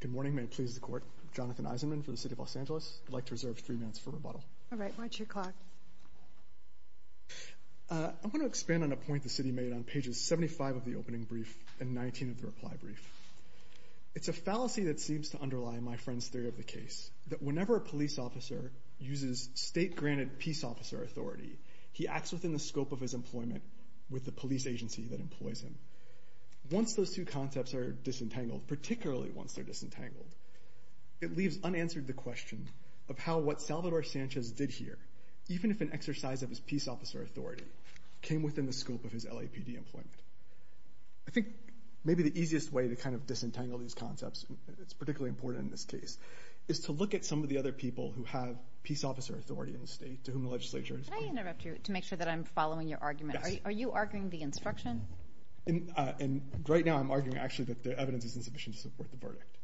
Good morning, may it please the court. Jonathan Eisenman for the City of Los Angeles. I'd like to reserve three minutes for rebuttal. All right, watch your clock. I want to expand on a point the city made on pages 75 of the opening brief and 19 of the reply brief. It's a fallacy that seems to underlie my friend's theory of the case, that whenever a police officer uses state granted peace officer authority, he acts within the scope of his employment with the police agency that employs him. Once those two concepts are disentangled, particularly once they're disentangled, it leaves unanswered the question of how what Salvador Sanchez did here, even if an exercise of his peace officer authority, came within the scope of his LAPD employment. I think maybe the easiest way to kind of disentangle these concepts, it's particularly important in this case, is to look at some of the other people who have peace officer authority in the state to whom the legislature is... Can I interrupt you to make sure that I'm following the instruction? And right now I'm arguing actually that the evidence is insufficient to support the verdict.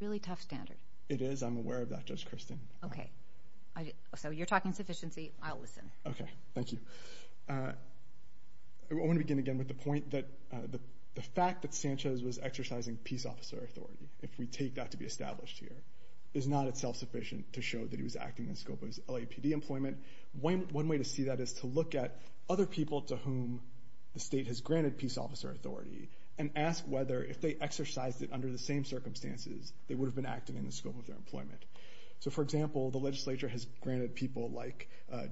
Really tough standard. It is, I'm aware of that Judge Kirsten. Okay, so you're talking sufficiency, I'll listen. Okay, thank you. I want to begin again with the point that the fact that Sanchez was exercising peace officer authority, if we take that to be established here, is not itself sufficient to show that he was acting in scope of his LAPD employment. One way to see that is to look at other people to whom the state has granted peace officer authority and ask whether, if they exercised it under the same circumstances, they would have been acting in the scope of their employment. So for example, the legislature has granted people like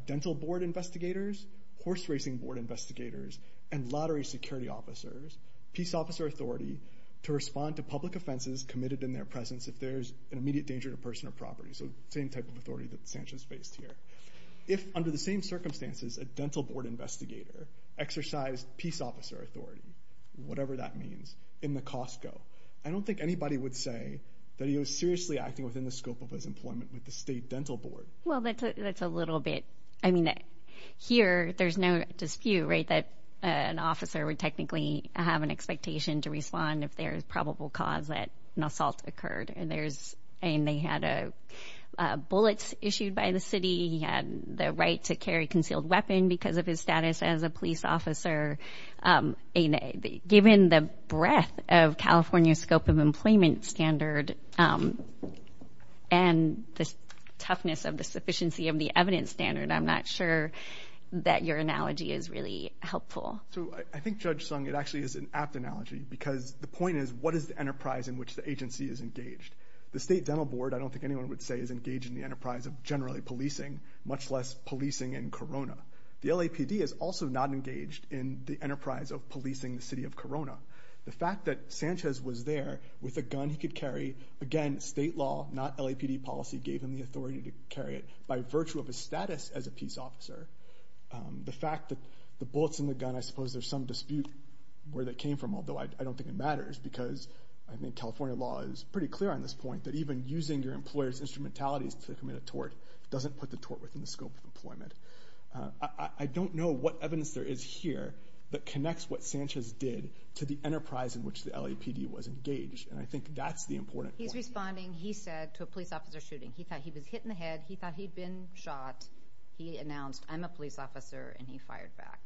dental board investigators, horse racing board investigators, and lottery security officers peace officer authority to respond to public offenses committed in their presence if there's an immediate danger to person or property. So same type of authority that Sanchez faced here. If under the same circumstances a dental board investigator exercised peace officer authority, whatever that means, in the Costco, I don't think anybody would say that he was seriously acting within the scope of his employment with the state dental board. Well that's a little bit, I mean, here there's no dispute, right, that an officer would technically have an expectation to respond if there is probable cause that an assault occurred. And there's, I mean, they had a bullets issued by the city, he had the right to carry concealed weapon because of his status as a police officer. Given the breadth of California scope of employment standard and the toughness of the sufficiency of the evidence standard, I'm not sure that your analogy is really helpful. So I think Judge Sung, it actually is an apt analogy because the point is, what is the enterprise in which the agency is engaged? The state dental board, I don't think anyone would say, is engaged in the enterprise of generally policing, much less policing in Corona. The LAPD is also not engaged in the enterprise of policing the city of Corona. The fact that Sanchez was there with a gun he could carry, again state law, not LAPD policy, gave him the authority to carry it by virtue of his status as a peace officer. The fact that the bullets in the gun, I suppose there's some dispute where that came from, although I don't think it matters, because I think California law is pretty clear on this point that even using your employer's instrumentalities to commit a tort doesn't put the tort within the scope of employment. I don't know what evidence there is here that connects what Sanchez did to the enterprise in which the LAPD was engaged, and I think that's the important point. He's responding, he said, to a police officer shooting. He thought he was hit in the head, he thought he'd been shot, he announced, I'm a police officer and he fired back.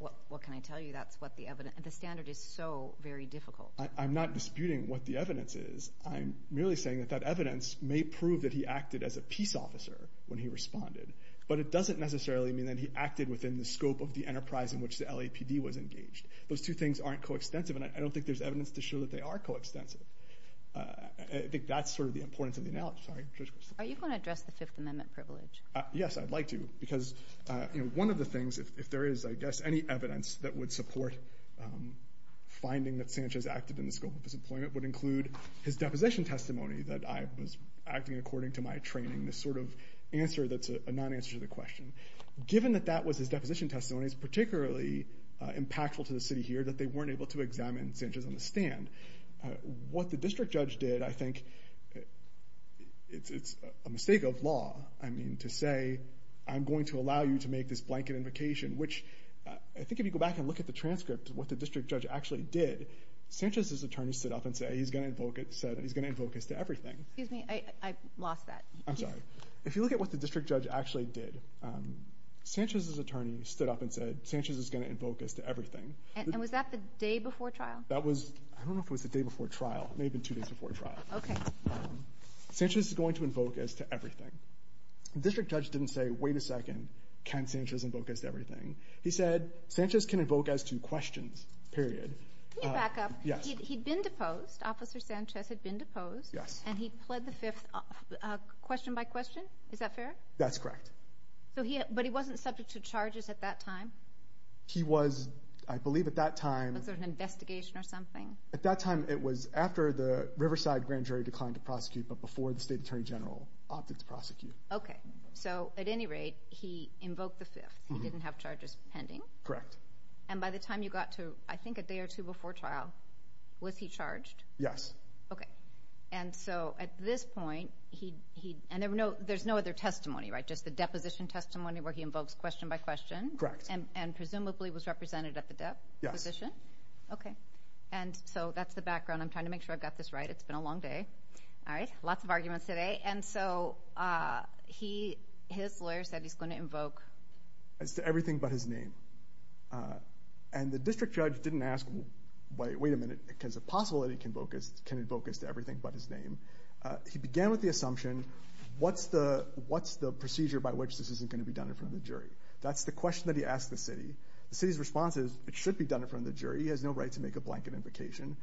What can I tell you, that's what the evidence, the standard is so very difficult. I'm not disputing what the evidence is. I'm merely saying that that evidence may prove that he acted as a peace officer when he responded, but it doesn't necessarily mean that he acted within the scope of the enterprise in which the LAPD was engaged. Those two things aren't coextensive, and I don't think there's evidence to show that they are coextensive. I think that's sort of one of the things, if there is, I guess, any evidence that would support finding that Sanchez acted in the scope of his employment, would include his deposition testimony, that I was acting according to my training, this sort of answer that's a non-answer to the question. Given that that was his deposition testimony, it's particularly impactful to the city here that they weren't able to examine Sanchez on the stand. What the district judge did, I think, it's a mistake of law, I mean, to say, I'm going to allow you to make this blanket invocation, which I think if you go back and look at the transcript of what the district judge actually did, Sanchez's attorney stood up and said he's gonna invoke it, said he's gonna invoke as to everything. Excuse me, I lost that. I'm sorry. If you look at what the district judge actually did, Sanchez's attorney stood up and said Sanchez is gonna invoke as to everything. And was that the day before trial? That was, I don't know if it was the day before trial. It may have been two days before trial. Okay. Sanchez is going to invoke as to everything. The district judge didn't say, wait a second, can Sanchez invoke as to everything? He said, Sanchez can invoke as to questions, period. Can you back up? Yes. He'd been deposed, Officer Sanchez had been deposed. Yes. And he pled the fifth question by question, is that fair? That's correct. So he, but he wasn't subject to charges at that time? He was, I believe at that time... Was there an investigation or something? At that time it was after the time to prosecute, but before the State Attorney General opted to prosecute. Okay. So at any rate, he invoked the fifth. He didn't have charges pending? Correct. And by the time you got to, I think a day or two before trial, was he charged? Yes. Okay. And so at this point, he, and there's no other testimony, right? Just the deposition testimony where he invokes question by question? Correct. And presumably was represented at the deposition? Yes. Okay. And so that's the background. I'm trying to make sure I've got this right. It's been a long day. All right. Lots of arguments today. And so he, his lawyer said he's going to invoke... As to everything but his name. And the district judge didn't ask, wait a minute, is it possible that he can invoke as to everything but his name? He began with the assumption, what's the procedure by which this isn't gonna be done in front of the jury? That's the question that he asked the city. The city's response is, it should be done in front of the jury. He has no right to make a blanket invocation.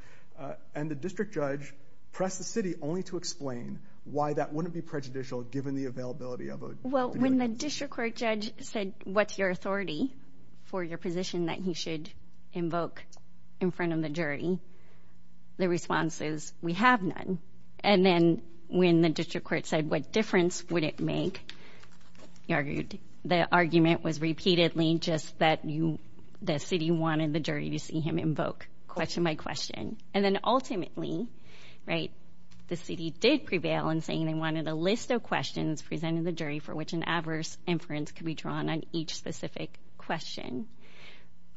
And the district judge pressed the city only to explain why that wouldn't be prejudicial, given the availability of a... Well, when the district court judge said, what's your authority for your position that he should invoke in front of the jury? The response is, we have none. And then when the district court said, what difference would it make? He argued, the argument was repeatedly just that the city wanted the jury to see him invoke, question by question. And then ultimately, the city did prevail in saying they wanted a list of questions presented to the jury for which an adverse inference could be drawn on each specific question.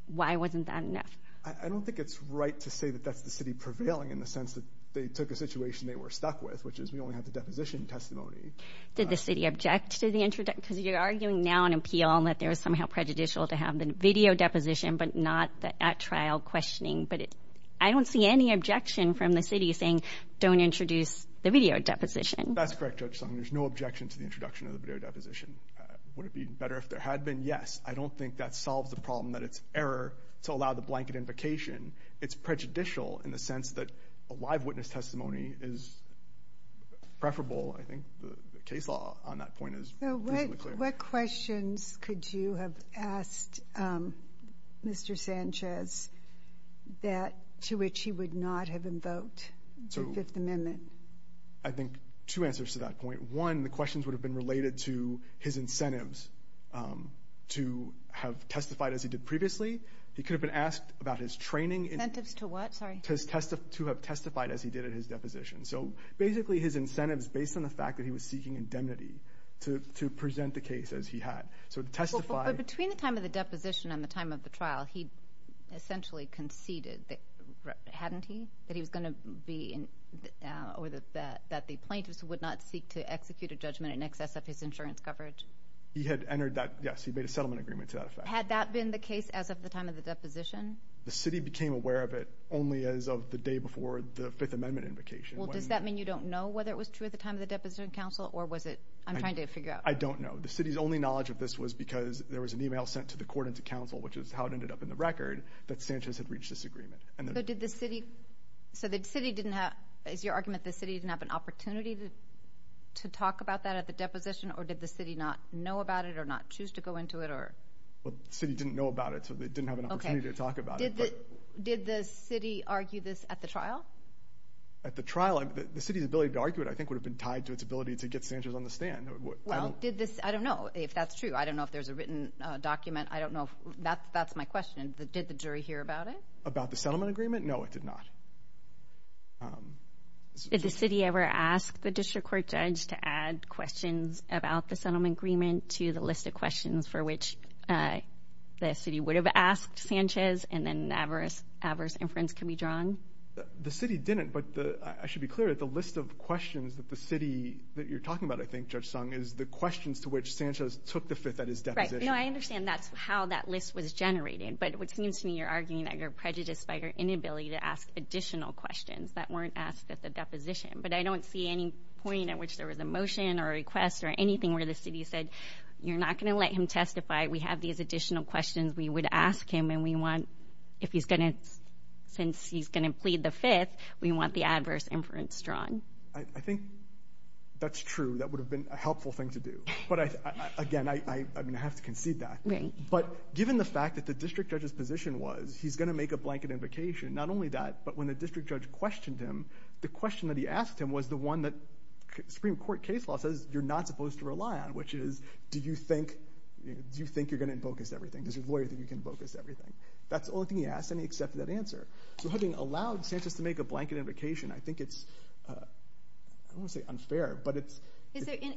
Why wasn't that enough? I don't think it's right to say that that's the city prevailing in the sense that they took a situation they were stuck with, which is we only have the deposition testimony. Did the city object to the introduction? Because you're somehow prejudicial to have the video deposition, but not the at trial questioning. But I don't see any objection from the city saying don't introduce the video deposition. That's correct, Judge Sung. There's no objection to the introduction of the video deposition. Would it be better if there had been? Yes. I don't think that solves the problem that it's error to allow the blanket invocation. It's prejudicial in the sense that a live witness testimony is preferable. I think the case law on that point is pretty clear. What questions could you have asked Mr. Sanchez to which he would not have invoked the Fifth Amendment? I think two answers to that point. One, the questions would have been related to his incentives to have testified as he did previously. He could have been asked about his training... Incentives to what? Sorry. To have testified as he did at his deposition. So basically, his incentives based on the fact that he was seeking indemnity to present the case as he had. So to testify... But between the time of the deposition and the time of the trial, he essentially conceded... Hadn't he? That he was gonna be... Or that the plaintiffs would not seek to execute a judgment in excess of his insurance coverage. He had entered that... Yes, he made a settlement agreement to that effect. Had that been the case as of the time of the deposition? The city became aware of it only as of the day before the Fifth Amendment invocation. Well, does that mean you don't know whether it was true at the time of the deposition in council, or was it... I'm trying to figure out. I don't know. The city's only knowledge of this was because there was an email sent to the court and to council, which is how it ended up in the record, that Sanchez had reached this agreement. And then... So did the city... So the city didn't have... Is your argument the city didn't have an opportunity to talk about that at the deposition, or did the city not know about it, or not choose to go into it, or... Well, the city didn't know about it, so they didn't have an opportunity to talk about it, but... Did the city argue this at the trial? At the trial, the city's ability to argue it, I think, would have been tied to its ability to get Sanchez on the stand. Well, did this... I don't know if that's true. I don't know if there's a written document. I don't know if... That's my question. Did the jury hear about it? About the settlement agreement? No, it did not. Did the city ever ask the district court judge to add questions about the settlement agreement to the list of questions for which the city would have asked Sanchez, and then adverse inference can be drawn? The city didn't, but I should be clear that the list of questions that the city... That you're talking about, I think, Judge Sung, is the questions to which Sanchez took the fifth at his deposition. Right. No, I understand that's how that list was generated, but it seems to me you're arguing that you're prejudiced by your inability to ask additional questions that weren't asked at the deposition. But I don't see any point at which there was a motion or a request or anything where the city said, You're not gonna let him testify. We have these additional questions we would ask him, and we want... If he's gonna... Since he's gonna plead the fifth, we want the fifth. I think that's true. That would have been a helpful thing to do. But again, I'm gonna have to concede that. Right. But given the fact that the district judge's position was, he's gonna make a blanket invocation, not only that, but when the district judge questioned him, the question that he asked him was the one that Supreme Court case law says you're not supposed to rely on, which is, Do you think you're gonna invoke his everything? Does your lawyer think you can invoke his everything? That's the only thing he asked, and he accepted that answer. So having allowed Sanchez to make a blanket invocation, I think it's... I don't wanna say unfair, but it's...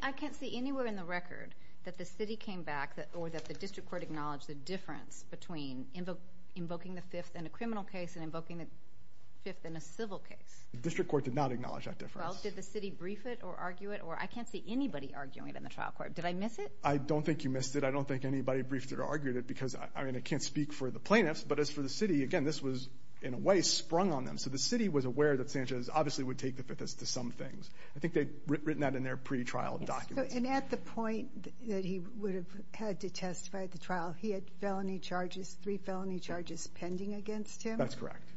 I can't see anywhere in the record that the city came back or that the district court acknowledged the difference between invoking the fifth in a criminal case and invoking the fifth in a civil case. The district court did not acknowledge that difference. Well, did the city brief it or argue it? Or I can't see anybody arguing it in the trial court. Did I miss it? I don't think you missed it. I don't think anybody briefed it or argued it because, I mean, I can't speak for the plaintiffs, but as for the city, again, this was, in a way, sprung on them. So the city was aware that Sanchez obviously would take the fifth as to some things. I think they'd written that in their pre trial documents. And at the point that he would have had to testify at the trial, he had felony charges, three felony charges pending against him? That's correct.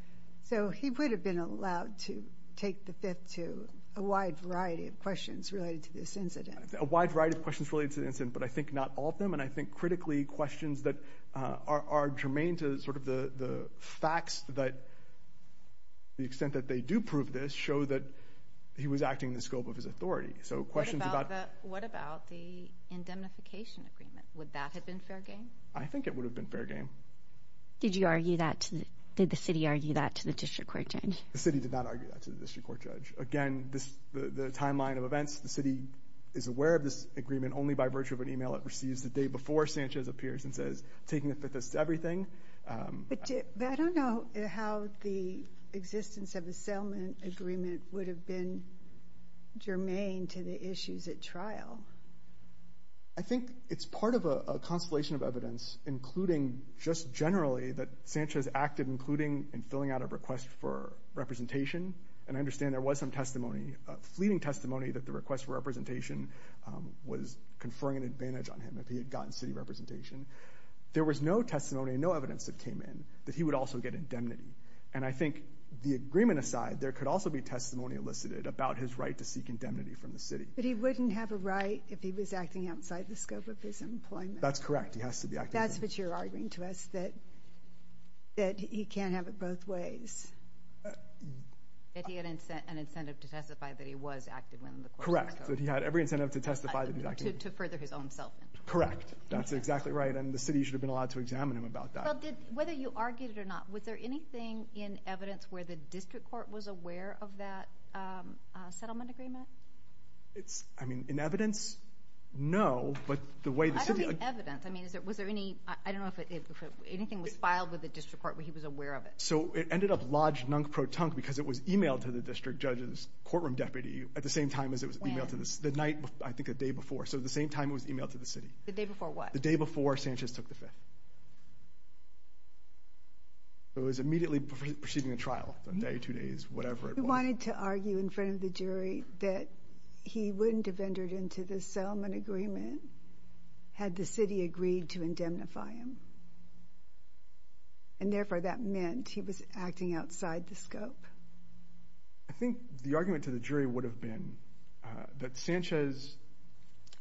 So he would have been allowed to take the fifth to a wide variety of questions related to this incident. A wide variety of questions related to this incident, but I think not all of them, and I think critically, questions that are germane to the facts that the extent that they do prove this show that he was acting in the scope of his authority. So questions about... What about the indemnification agreement? Would that have been fair game? I think it would have been fair game. Did you argue that? Did the city argue that to the district court judge? The city did not argue that to the district court judge. Again, the timeline of events, the city is aware of this agreement only by virtue of an email it receives the day before Sanchez appears and says, taking the fifth is everything. But I don't know how the existence of a settlement agreement would have been germane to the issues at trial. I think it's part of a constellation of evidence, including just generally that Sanchez acted, including in filling out a request for representation. And I understand there was some testimony, fleeting testimony that the request for representation was conferring an advantage on him if he had gotten city representation. There was no testimony, no evidence that came in that he would also get indemnity. And I think the agreement aside, there could also be testimony elicited about his right to seek indemnity from the city. But he wouldn't have a right if he was acting outside the scope of his employment. That's correct, he has to be active. That's what you're arguing to us, that he can't have it both ways. That he had an incentive to testify that he was active within the court to further his own self. Correct, that's exactly right. And the city should have been allowed to examine him about that. Whether you argued it or not, was there anything in evidence where the district court was aware of that settlement agreement? It's... I mean, in evidence, no, but the way the city... I don't mean evidence. I mean, was there any... I don't know if anything was filed with the district court where he was aware of it. So it ended up lodged nunk pro tonk because it was emailed to the district judge's courtroom deputy at the same time as it was the day before. So at the same time, it was emailed to the city. The day before what? The day before Sanchez took the fifth. So it was immediately preceding the trial, a day, two days, whatever it was. We wanted to argue in front of the jury that he wouldn't have entered into the settlement agreement had the city agreed to indemnify him. And therefore, that meant he was acting outside the scope. I think the argument to the jury would have been that Sanchez,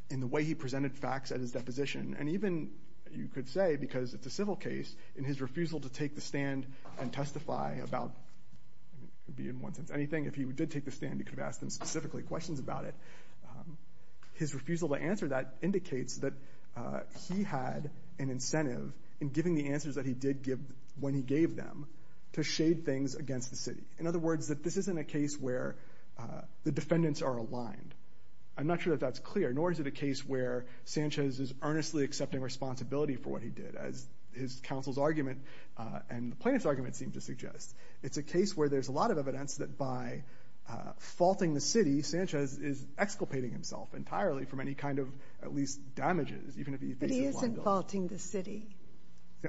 in the way he presented facts at his deposition, and even, you could say, because it's a civil case, in his refusal to take the stand and testify about... It could be in one sense, anything. If he did take the stand, he could have asked them specifically questions about it. His refusal to answer that indicates that he had an incentive in giving the answers that he did give when he gave them to shade things against the city. In other words, that this isn't a case where the defendants are aligned. I'm not sure that that's clear, nor is it a case where Sanchez is earnestly accepting responsibility for what he did, as his counsel's argument and the plaintiff's argument seem to suggest. It's a case where there's a lot of evidence that by faulting the city, Sanchez is exculpating himself entirely from any kind of, at least, damages, even if he faces... But he isn't faulting the city.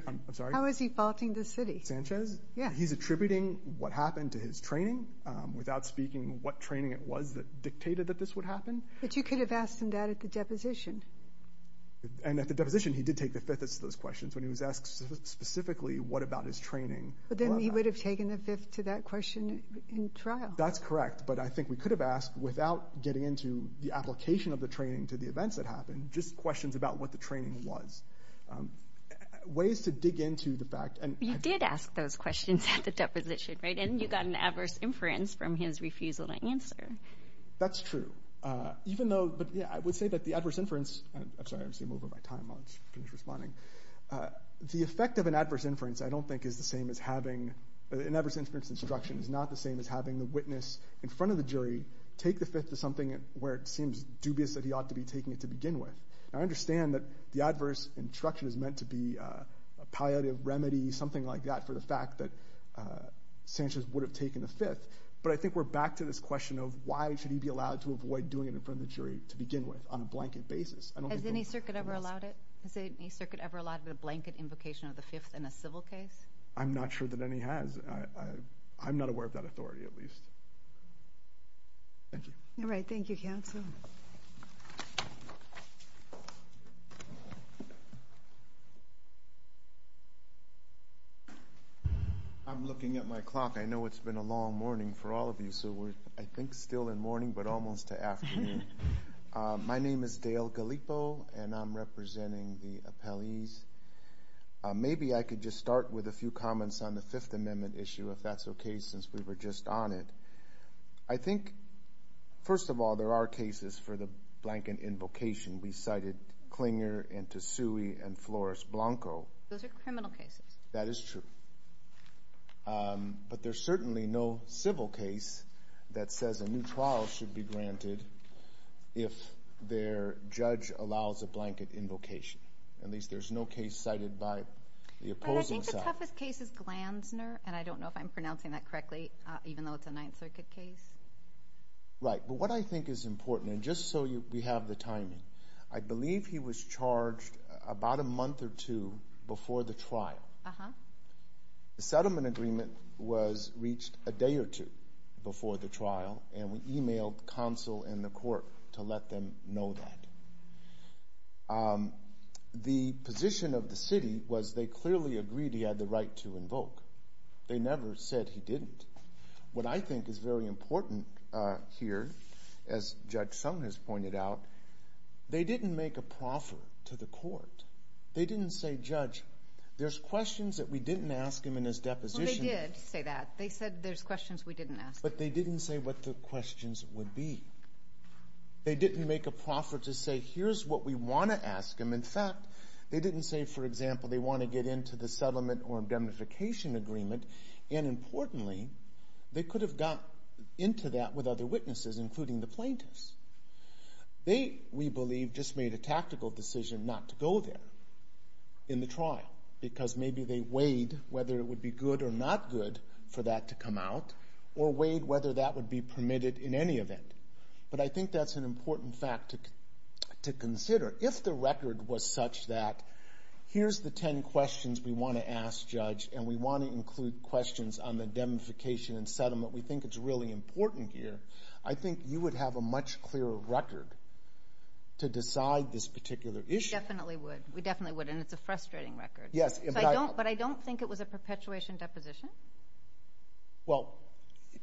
I'm sorry? How is he faulting the city? Sanchez? Yeah. He's faulting his training, without speaking what training it was that dictated that this would happen. But you could have asked him that at the deposition. And at the deposition, he did take the fifthest of those questions when he was asked specifically what about his training. But then he would have taken the fifth to that question in trial. That's correct, but I think we could have asked, without getting into the application of the training to the events that happened, just questions about what the training was. Ways to dig into the fact... You did ask those questions at the adverse inference from his refusal to answer. That's true. Even though... But yeah, I would say that the adverse inference... I'm sorry, I'm over my time. I'll just finish responding. The effect of an adverse inference, I don't think is the same as having... An adverse inference instruction is not the same as having the witness in front of the jury take the fifth to something where it seems dubious that he ought to be taking it to begin with. I understand that the adverse instruction is meant to be a palliative remedy, something like that, for the fact that he's taking the fifth. But I think we're back to this question of why should he be allowed to avoid doing it in front of the jury to begin with, on a blanket basis. I don't think... Has any circuit ever allowed it? Has any circuit ever allowed a blanket invocation of the fifth in a civil case? I'm not sure that any has. I'm not aware of that authority, at least. Thank you. Alright, thank you, counsel. I'm looking at my clock. I know it's been a long morning for all of you, so we're, I think, still in morning, but almost to afternoon. My name is Dale Gallipo, and I'm representing the appellees. Maybe I could just start with a few comments on the Fifth Amendment issue, if that's okay, since we were just on it. I think, first of all, there are cases for the blanket invocation. We cited Clinger and Tesui and Flores Blanco. Those are criminal cases. That is true. But there's certainly no civil case that says a new trial should be granted if their judge allows a blanket invocation. At least, there's no case cited by the opposing side. I think the toughest case is Glanzner, and I don't know if I'm pronouncing that correctly, even though it's a Ninth Circuit case. Right. But what I think is important, and just so we have the timing, I believe he was charged about a month or two before the trial. The settlement agreement was reached a day or two before the trial, and we emailed counsel and the court to let them know that. The position of the city was they clearly agreed he had the right to invoke. They never said he didn't. What I think is very important here, as Judge Sung has pointed out, they didn't make a proffer to the court. They didn't say, Judge, there's questions that we didn't ask him in his deposition. Well, they did say that. They said there's questions we didn't ask him. But they didn't say what the questions would be. They didn't make a proffer to say, here's what we wanna ask him. In fact, they didn't say, for example, they wanna get into the settlement or indemnification agreement. And importantly, they could have got into that with other witnesses, including the plaintiffs. They, we believe, just made a tactical decision not to go there in the trial, because maybe they weighed whether it would be good or not good for that to come out, or weighed whether that would be permitted in any event. But I think that's an important fact to consider. If the record was such that, here's the 10 questions we wanna ask Judge, and we wanna include questions on the indemnification and settlement, we think it's really important here, I think you would have a much clearer record to decide this particular issue. We definitely would. We definitely would, and it's a frustrating record. Yes, but I... But I don't think it was a perpetuation deposition. Well,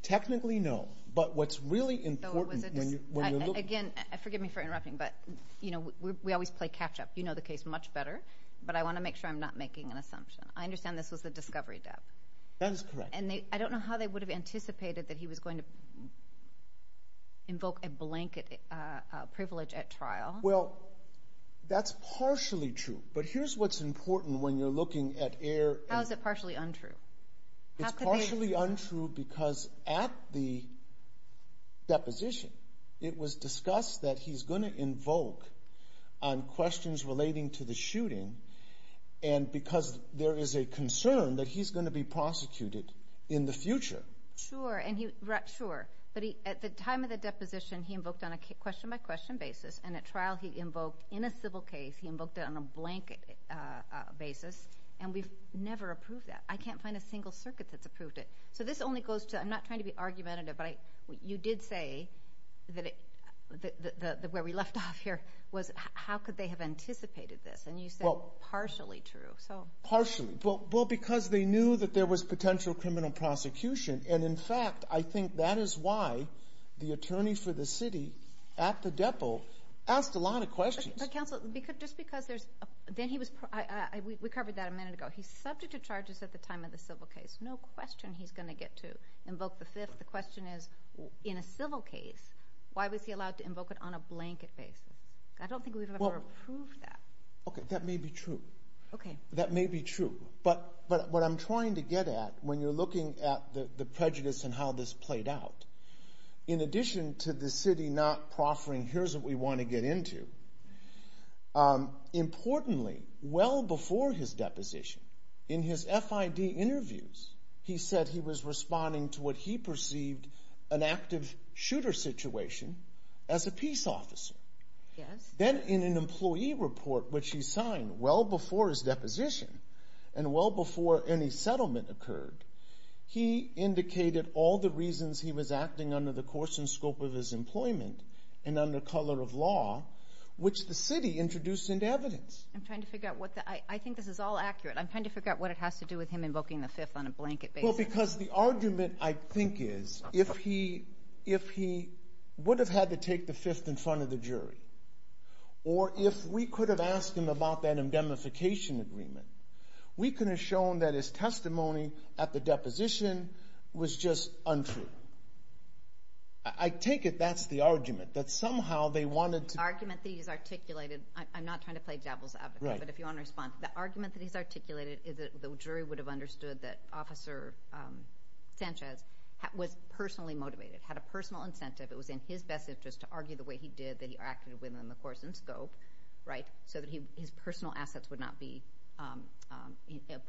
technically, no. But what's really important when you... Again, forgive me for interrupting, but we always play catch up. You know the case much better, but I wanna make sure I'm not making an assumption. I understand this was the discovery dep. That is correct. And I don't know how they would have anticipated that he was going to invoke a blanket privilege at trial. Well, that's partially true, but here's what's important when you're looking at air... How is it partially untrue? How could they... It's partially untrue because at the deposition, it was discussed that he's gonna invoke on questions relating to the shooting, and because there is a concern that he's gonna be prosecuted in the future. Sure, and he... Sure, but at the time of the deposition, he invoked on a question by question basis, and at trial, he invoked, in a civil case, he invoked it on a blanket basis, and we've never approved that. I can't find a single circuit that's approved it. So this only goes to... I'm not trying to be argumentative, but you did say where we left off here was, how could they have anticipated this? And you said partially true, so... Partially. Well, because they knew that there was potential criminal prosecution, and in fact, I think that is why the attorney for the city at the depot asked a lot of questions. But counsel, just because there's... Then he was... We covered that a minute ago. He's subject to charges at the time of the civil case. No question he's gonna get to invoke the fifth. The question is, in a civil case, why was he allowed to invoke it on a blanket basis? That may be true. Okay. That may be true, but what I'm trying to get at, when you're looking at the prejudice and how this played out, in addition to the city not proffering, here's what we wanna get into. Importantly, well before his deposition, in his FID interviews, he said he was responding to what he perceived an active shooter situation as a peace officer. Yes. Then in an employee report, which he signed well before his deposition, and well before any settlement occurred, he indicated all the reasons he was acting under the course and scope of his employment, and under color of law, which the city introduced into evidence. I'm trying to figure out what... I think this is all accurate. I'm trying to figure out what it has to do with him invoking the fifth on a blanket basis. Well, because the argument, I think, is if he would have had to fifth in front of the jury, or if we could have asked him about that indemnification agreement, we could have shown that his testimony at the deposition was just untrue. I take it that's the argument, that somehow they wanted to... The argument that he's articulated, I'm not trying to play devil's advocate, but if you wanna respond, the argument that he's articulated is that the jury would have understood that Officer Sanchez was personally motivated, had a personal incentive, it was in his best interest to argue the way he did, that he acted within the course and scope, so that his personal assets would not be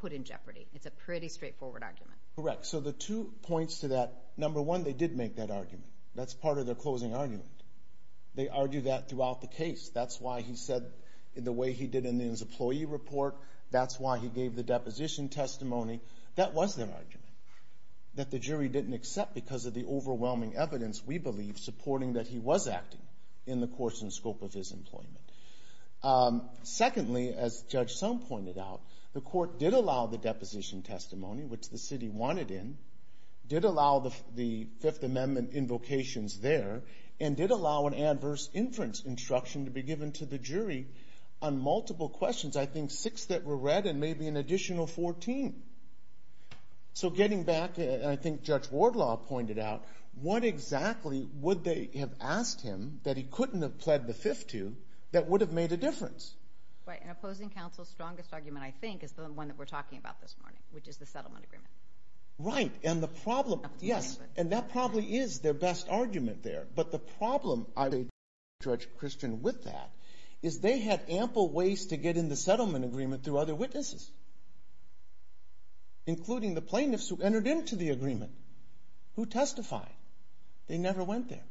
put in jeopardy. It's a pretty straightforward argument. Correct. So the two points to that, number one, they did make that argument. That's part of their closing argument. They argued that throughout the case. That's why he said, in the way he did in his employee report, that's why he gave the deposition testimony. That was their argument, that the jury didn't accept because of the overwhelming evidence we believe supporting that he was acting in the course and scope of his employment. Secondly, as Judge Sum pointed out, the court did allow the deposition testimony, which the city wanted in, did allow the Fifth Amendment invocations there, and did allow an adverse inference instruction to be given to the jury on multiple questions, I think six that were read and maybe an additional 14. So getting back, and I think Judge Wardlaw pointed out, what exactly would they have asked him that he couldn't have pled the Fifth to, that would have made a difference? Right, and opposing counsel's strongest argument, I think, is the one that we're talking about this morning, which is the settlement agreement. Right, and the problem... Yes, and that probably is their best argument there. But the problem, I would say to Judge Christian with that, is they had ample ways to get in the settlement agreement through other witnesses, including the plaintiffs who entered into the agreement, who testified. They never went there,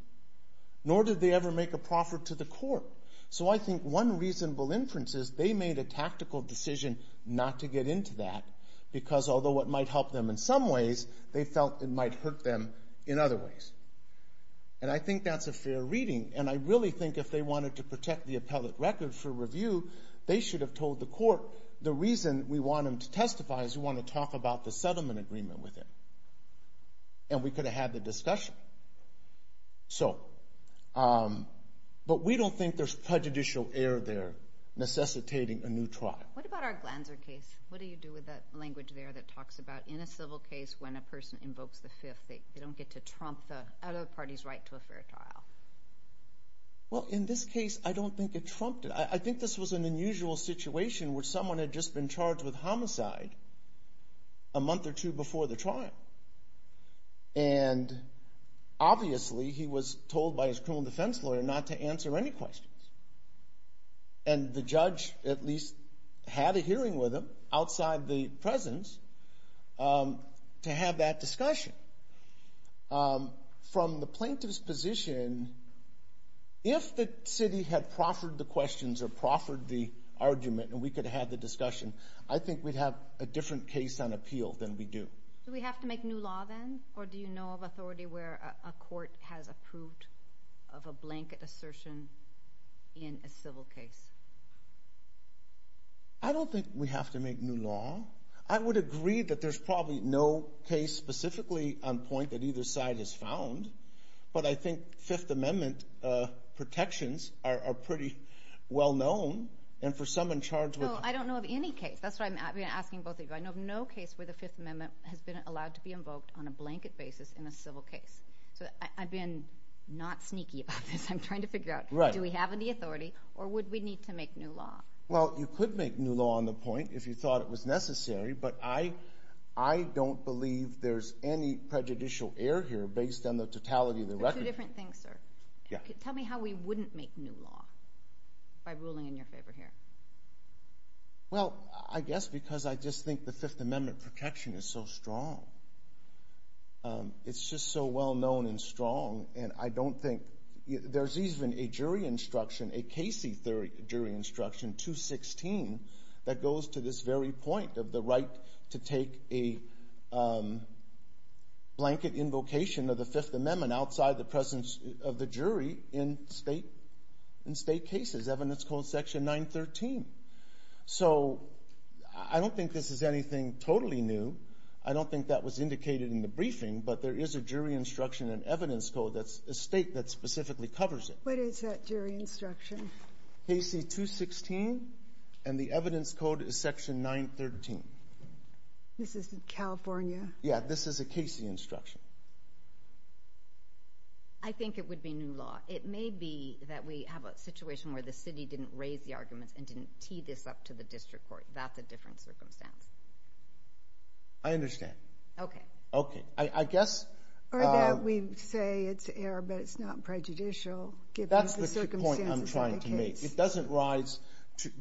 nor did they ever make a proffer to the court. So I think one reasonable inference is they made a tactical decision not to get into that, because although it might help them in some ways, they felt it might hurt them in other ways. And I think that's a fair reading, and I really think if they wanted to protect the appellate record for review, they should have told the court, the reason we want them to testify is we want to talk about the settlement agreement with him. And we could have had the discussion. But we don't think there's prejudicial error there necessitating a new trial. What about our Glanzer case? What do you do with that language there that talks about in a civil case, when a person invokes the Fifth, they don't get to trump the other party's right to a fair trial? Well, in this case, I don't think it trumped it. I think this was an unusual situation where someone had just been charged with homicide a month or two before the trial. And obviously, he was told by his criminal defense lawyer not to answer any questions. And the judge at least had a hearing with him outside the presence to have that discussion. From the plaintiff's position, if the city had proffered the questions or proffered the argument and we could have had the discussion, I think we'd have a different case on appeal than we do. Do we have to make new law then? Or do you know of authority where a court has approved of a blanket assertion in a civil case? I don't think we have to make new law. I would agree that there's probably no case specifically on point that either side has found. But I think Fifth Amendment protections are pretty well known. And for someone charged with... No, I don't know of any case. That's what I'm asking both of you. I know of no case where the Fifth Amendment has been allowed to be invoked on a blanket basis in a civil case. So I've been not sneaky about this. I'm trying to figure out, do we have any authority or would we need to make new law? Well, you could make new law on the point if you thought it was necessary. But I don't believe there's any prejudicial error here based on the totality of the record. Two different things, sir. Tell me how we wouldn't make new law by ruling in your favor here. Well, I guess because I just think the Fifth Amendment protection is so strong. It's just so well known and strong. And I don't think... There's even a jury instruction, a Casey jury instruction, 216, that goes to this very point to take a blanket invocation of the Fifth Amendment outside the presence of the jury in state cases. Evidence code section 913. So I don't think this is anything totally new. I don't think that was indicated in the briefing. But there is a jury instruction and evidence code that's a state that specifically covers it. What is that jury instruction? Casey 216, and the evidence code is section 913. This is in California? Yeah, this is a Casey instruction. I think it would be new law. It may be that we have a situation where the city didn't raise the arguments and didn't tee this up to the district court. That's a different circumstance. I understand. Okay. Okay. I guess... Or that we say it's error, but it's not prejudicial given the circumstances. That's the point I'm trying to make. It doesn't rise,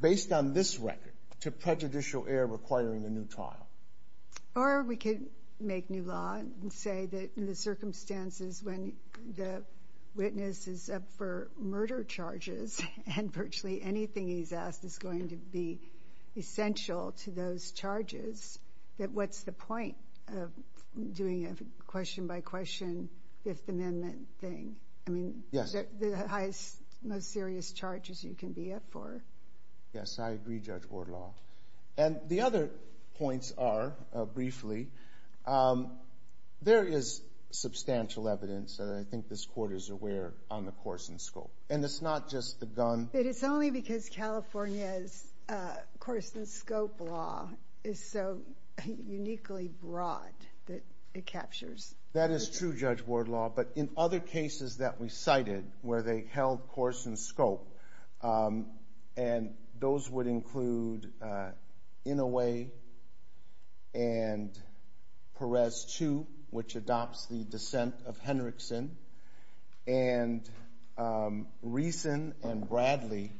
based on this record, to prejudicial error requiring a new trial. Or we could make new law and say that in the circumstances when the witness is up for murder charges and virtually anything he's asked is going to be essential to those charges, that what's the point of doing a question-by- question Fifth Amendment thing? Yes. The highest, most serious charges you can be up for. Yes, I agree, Judge Wardlaw. And the other points are, briefly, there is substantial evidence, and I think this Court is aware, on the course and scope. And it's not just the gun. But it's only because California's course and scope law is so uniquely broad that it captures... That is true, Judge Wardlaw. But in other cases that we cited where they held course and scope, and those would include Inouye and Perez 2, which adopts the dissent of Henrickson, and Reason and Bradley,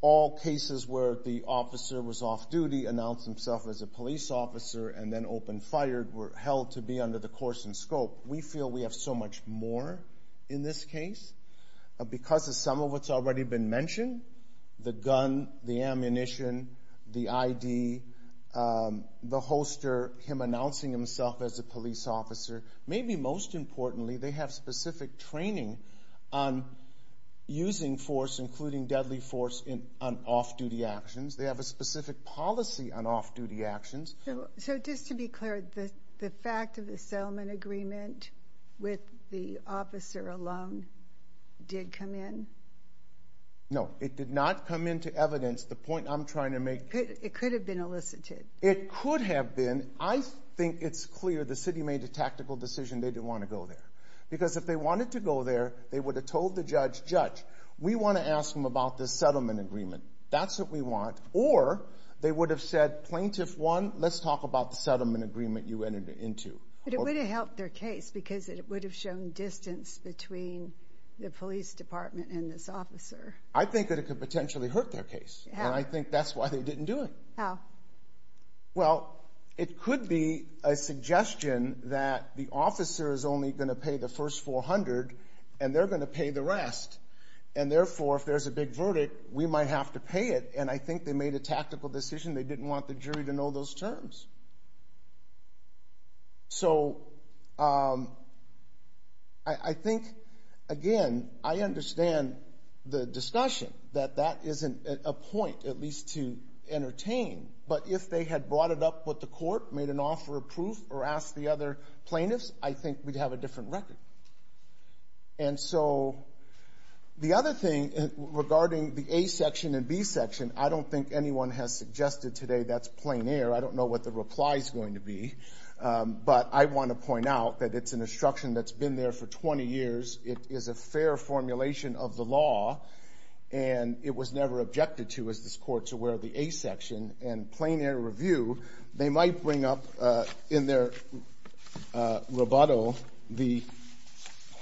all cases where the officer was off-duty, announced himself as a police officer, and then open-fired were held to be under the course and scope. We feel we have so much more in this case because of some of what's already been mentioned, the gun, the ammunition, the ID, the holster, him announcing himself as a police officer. Maybe most importantly, they have specific training on using force, including deadly force, on off-duty actions. They have a specific policy on off-duty actions. So just to be clear, the fact of the settlement agreement with the officer alone did come in? No. It did not come into evidence. The point I'm trying to make... It could have been elicited. It could have been. I think it's clear the city made a tactical decision they didn't want to go there. Because if they wanted to go there, they would have told the judge, Judge, we want to ask them about this settlement agreement. That's what we want. Or they would have said, Plaintiff 1, let's talk about the settlement agreement you entered into. But it would have helped their case because it would have shown distance between the police department and this officer. I think that it could potentially hurt their case. And I think that's why they didn't do it. How? Well, it could be a suggestion that the officer is only going to pay the first $400 and they're going to pay the rest. And therefore, if there's a big verdict, we might have to pay it. And I think they made a tactical decision. They didn't want the jury to know those terms. So I think, again, I understand the discussion that that isn't a point, at least to entertain. But if they had brought it up with the court, made an offer of proof, or asked the other plaintiffs, I think we'd have a different record. And so the other thing regarding the A section and B section, I don't think anyone has suggested today that's plein air. I don't know what the reply is going to be. But I want to point out that it's an instruction that's been there for 20 years. It is a fair formulation of the law. And it was never objected to, as this Court's aware, the A section. review, they might bring up in their rebuttal the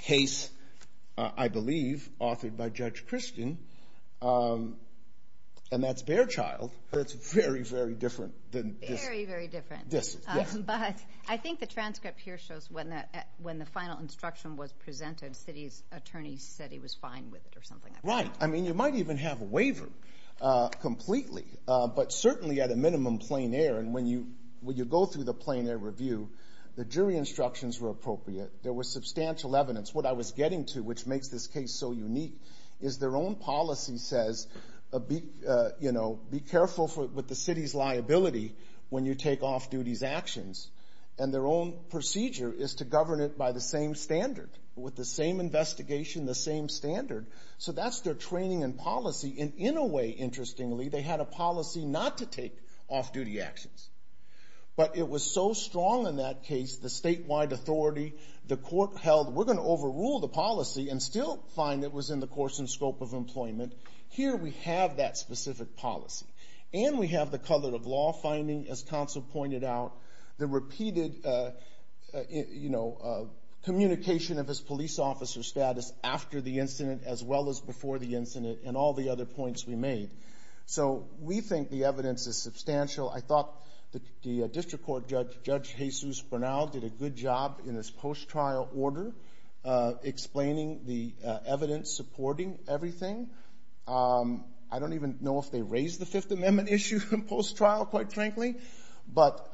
case, I believe, authored by Judge Christian, and that's Behrchild. That's very, very different than this. Very, very different. Yes. But I think the transcript here shows when the final instruction was presented, city's attorney said he was fine with it or something like that. Right. I mean, you might even have a waiver completely. But certainly at a minimum plein air. And when you go through the plein air review, the jury instructions were appropriate. There was substantial evidence. What I was getting to, which makes this case so unique, is their own policy says, you know, be careful with the city's liability when you take off-duty's actions. And their own procedure is to govern it by the same standard, with the same investigation, the same standard. So that's their training and policy. And in a way, interestingly, they had a policy not to take off-duty actions. But it was so strong in that case, the statewide authority, the court held, we're going to overrule the policy and still find it was in the course and scope of employment. Here we have that specific policy. And we have the color of law finding, as counsel pointed out, the repeated, you know, communication of his police officer status after the incident as well as before the incident and all the other points we made. So we think the evidence is substantial. I thought the district court judge, Judge Jesus Bernal, did a good job in his post-trial order, explaining the evidence, supporting everything. I don't even know if they raised the Fifth Amendment issue in post-trial, quite frankly. But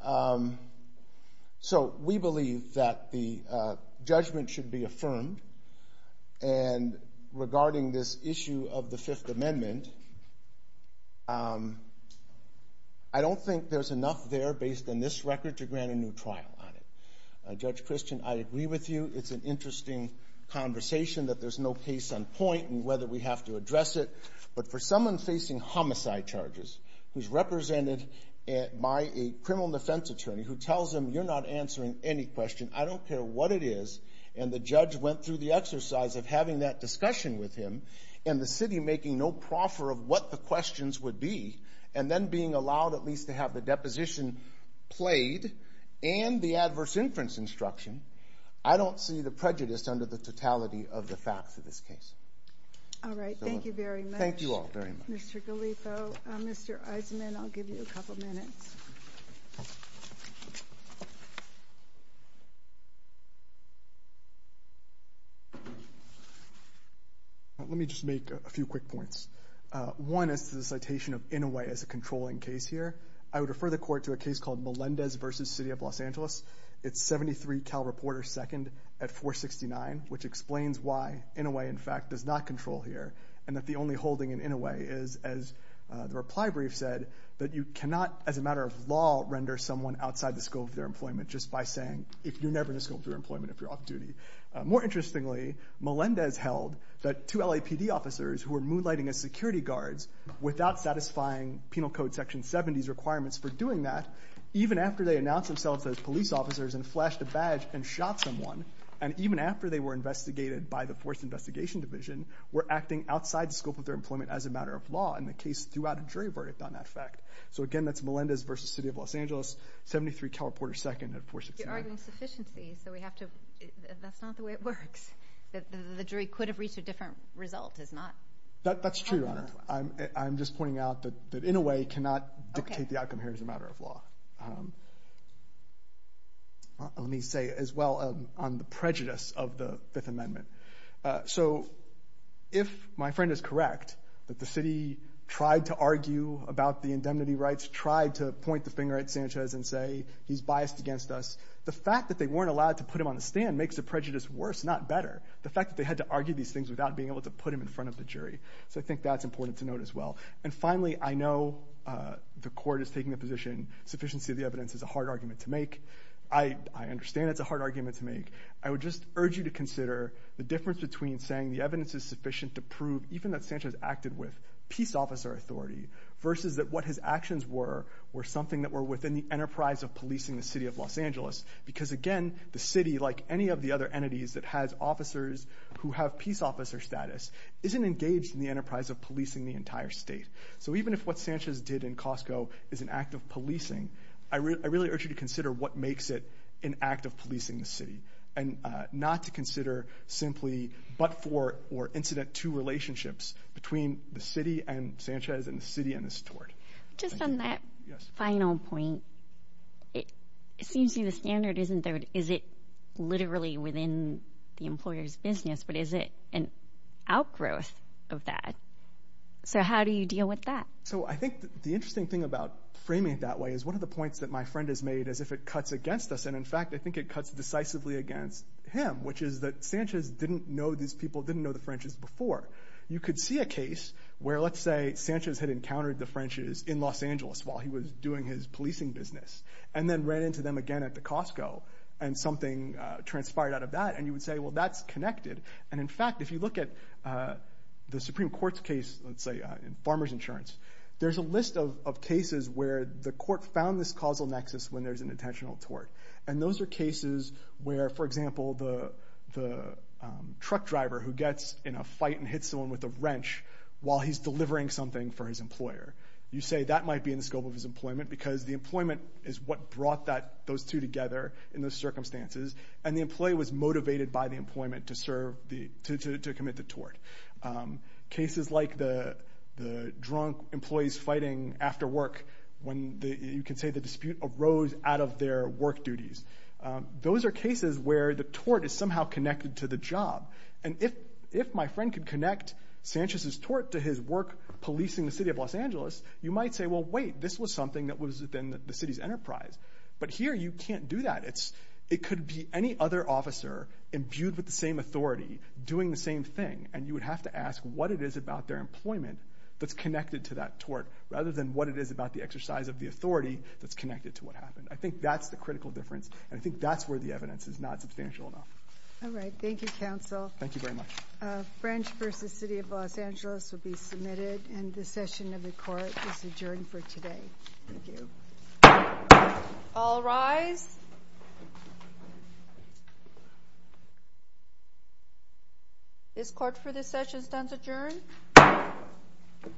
so we believe that the judgment should be affirmed. And regarding this issue of the Fifth Amendment, I don't think there's enough there based on this record to grant a new trial on it. Judge Christian, I agree with you. It's an interesting conversation that there's no case on point in whether we have to address it. But for someone facing homicide charges who's represented by a criminal defense attorney who tells them you're not answering any question, I don't care what it is, and the judge went through the exercise of having that discussion with him and the city making no proffer of what the questions would be, and then being allowed at least to have the deposition played and the adverse inference instruction, I don't see the prejudice under the totality of the facts of this case. All right, thank you very much. Thank you all very much. Mr. Galifo, Mr. Eisenman, I'll give you a couple minutes. Let me just make a few quick points. One is the citation of Inouye as a controlling case here. I would refer the court to a case called Melendez v. City of Los Angeles. It's 73 Cal Reporter 2nd at 469, which explains why Inouye, in fact, does not control here and that the only holding in Inouye is, as the reply brief said, that you cannot, as a matter of law, render someone outside the scope of their employment just by saying if you're never in the scope of your employment, if you're off duty. More interestingly, Melendez held that two LAPD officers who were moonlighting as security guards without satisfying penal code section 70's requirements for doing that, even after they announced themselves as police officers and flashed a badge and shot someone, and even after they were investigated by the Force Investigation Division, were acting outside the scope of their employment as a matter of law in the case throughout a jury verdict on that fact. So again, that's Melendez v. City of Los Angeles, 73 Cal Reporter 2nd at 469. You're arguing sufficiency, so we have to... That's not the way it works. The jury could have reached a different result. That's true, Your Honor. I'm just pointing out that Inouye cannot dictate the outcome here as a matter of law. Let me say as well on the prejudice of the Fifth Amendment. So if my friend is correct that the city tried to argue about the indemnity rights, tried to point the finger at Sanchez and say he's biased against us, the fact that they weren't allowed to put him on the stand makes the prejudice worse, not better. The fact that they had to argue these things without being able to put him in front of the jury. So I think that's important to note as well. And finally, I know the court is taking the position sufficiency of the evidence is a hard argument to make. I understand it's a hard argument to make. I would just urge you to consider the difference between saying the evidence is sufficient to prove even that Sanchez acted with peace officer authority versus that what his actions were were something that were within the enterprise of policing the City of Los Angeles. Because again, the city, like any of the other entities that has officers who have peace officer status, isn't engaged in the enterprise of policing the entire state. So even if what Sanchez did in Costco is an act of policing, I really urge you to consider what makes it an act of policing the city and not to consider simply but-for or incident-to relationships between the city and Sanchez and the city and the steward. Just on that final point, it seems to me the standard isn't there. within the employer's business, but is it an outgrowth of that? So how do you deal with that? So I think the interesting thing about framing it that way is one of the points that my friend has made is if it cuts against us, and in fact, I think it cuts decisively against him, which is that Sanchez didn't know these people, didn't know the French's before. You could see a case where, let's say, Sanchez had encountered the French's in Los Angeles while he was doing his policing business and then ran into them again at the Costco and something transpired out of that, and you would say, well, that's connected. And in fact, if you look at the Supreme Court's case, let's say, in farmer's insurance, there's a list of cases where the court found this causal nexus when there's an intentional tort. And those are cases where, for example, the truck driver who gets in a fight and hits someone with a wrench while he's delivering something for his employer. Because the employment is what brought those two together in those circumstances, and the employee was motivated by the employment to commit the tort. Cases like the drunk employees fighting after work when, you could say, the dispute arose out of their work duties. Those are cases where the tort is somehow connected to the job. And if my friend could connect Sanchez's tort to his work policing the city of Los Angeles, you might say, well, wait, this was something that was within the city's enterprise. But here you can't do that. It could be any other officer imbued with the same authority doing the same thing, and you would have to ask what it is about their employment that's connected to that tort rather than what it is about the exercise of the authority that's connected to what happened. I think that's the critical difference, and I think that's where the evidence is not substantial enough. All right. Thank you, counsel. Thank you very much. French v. City of Los Angeles will be submitted, and the session of the court is adjourned for today. Thank you. All rise. This court for this session stands adjourned.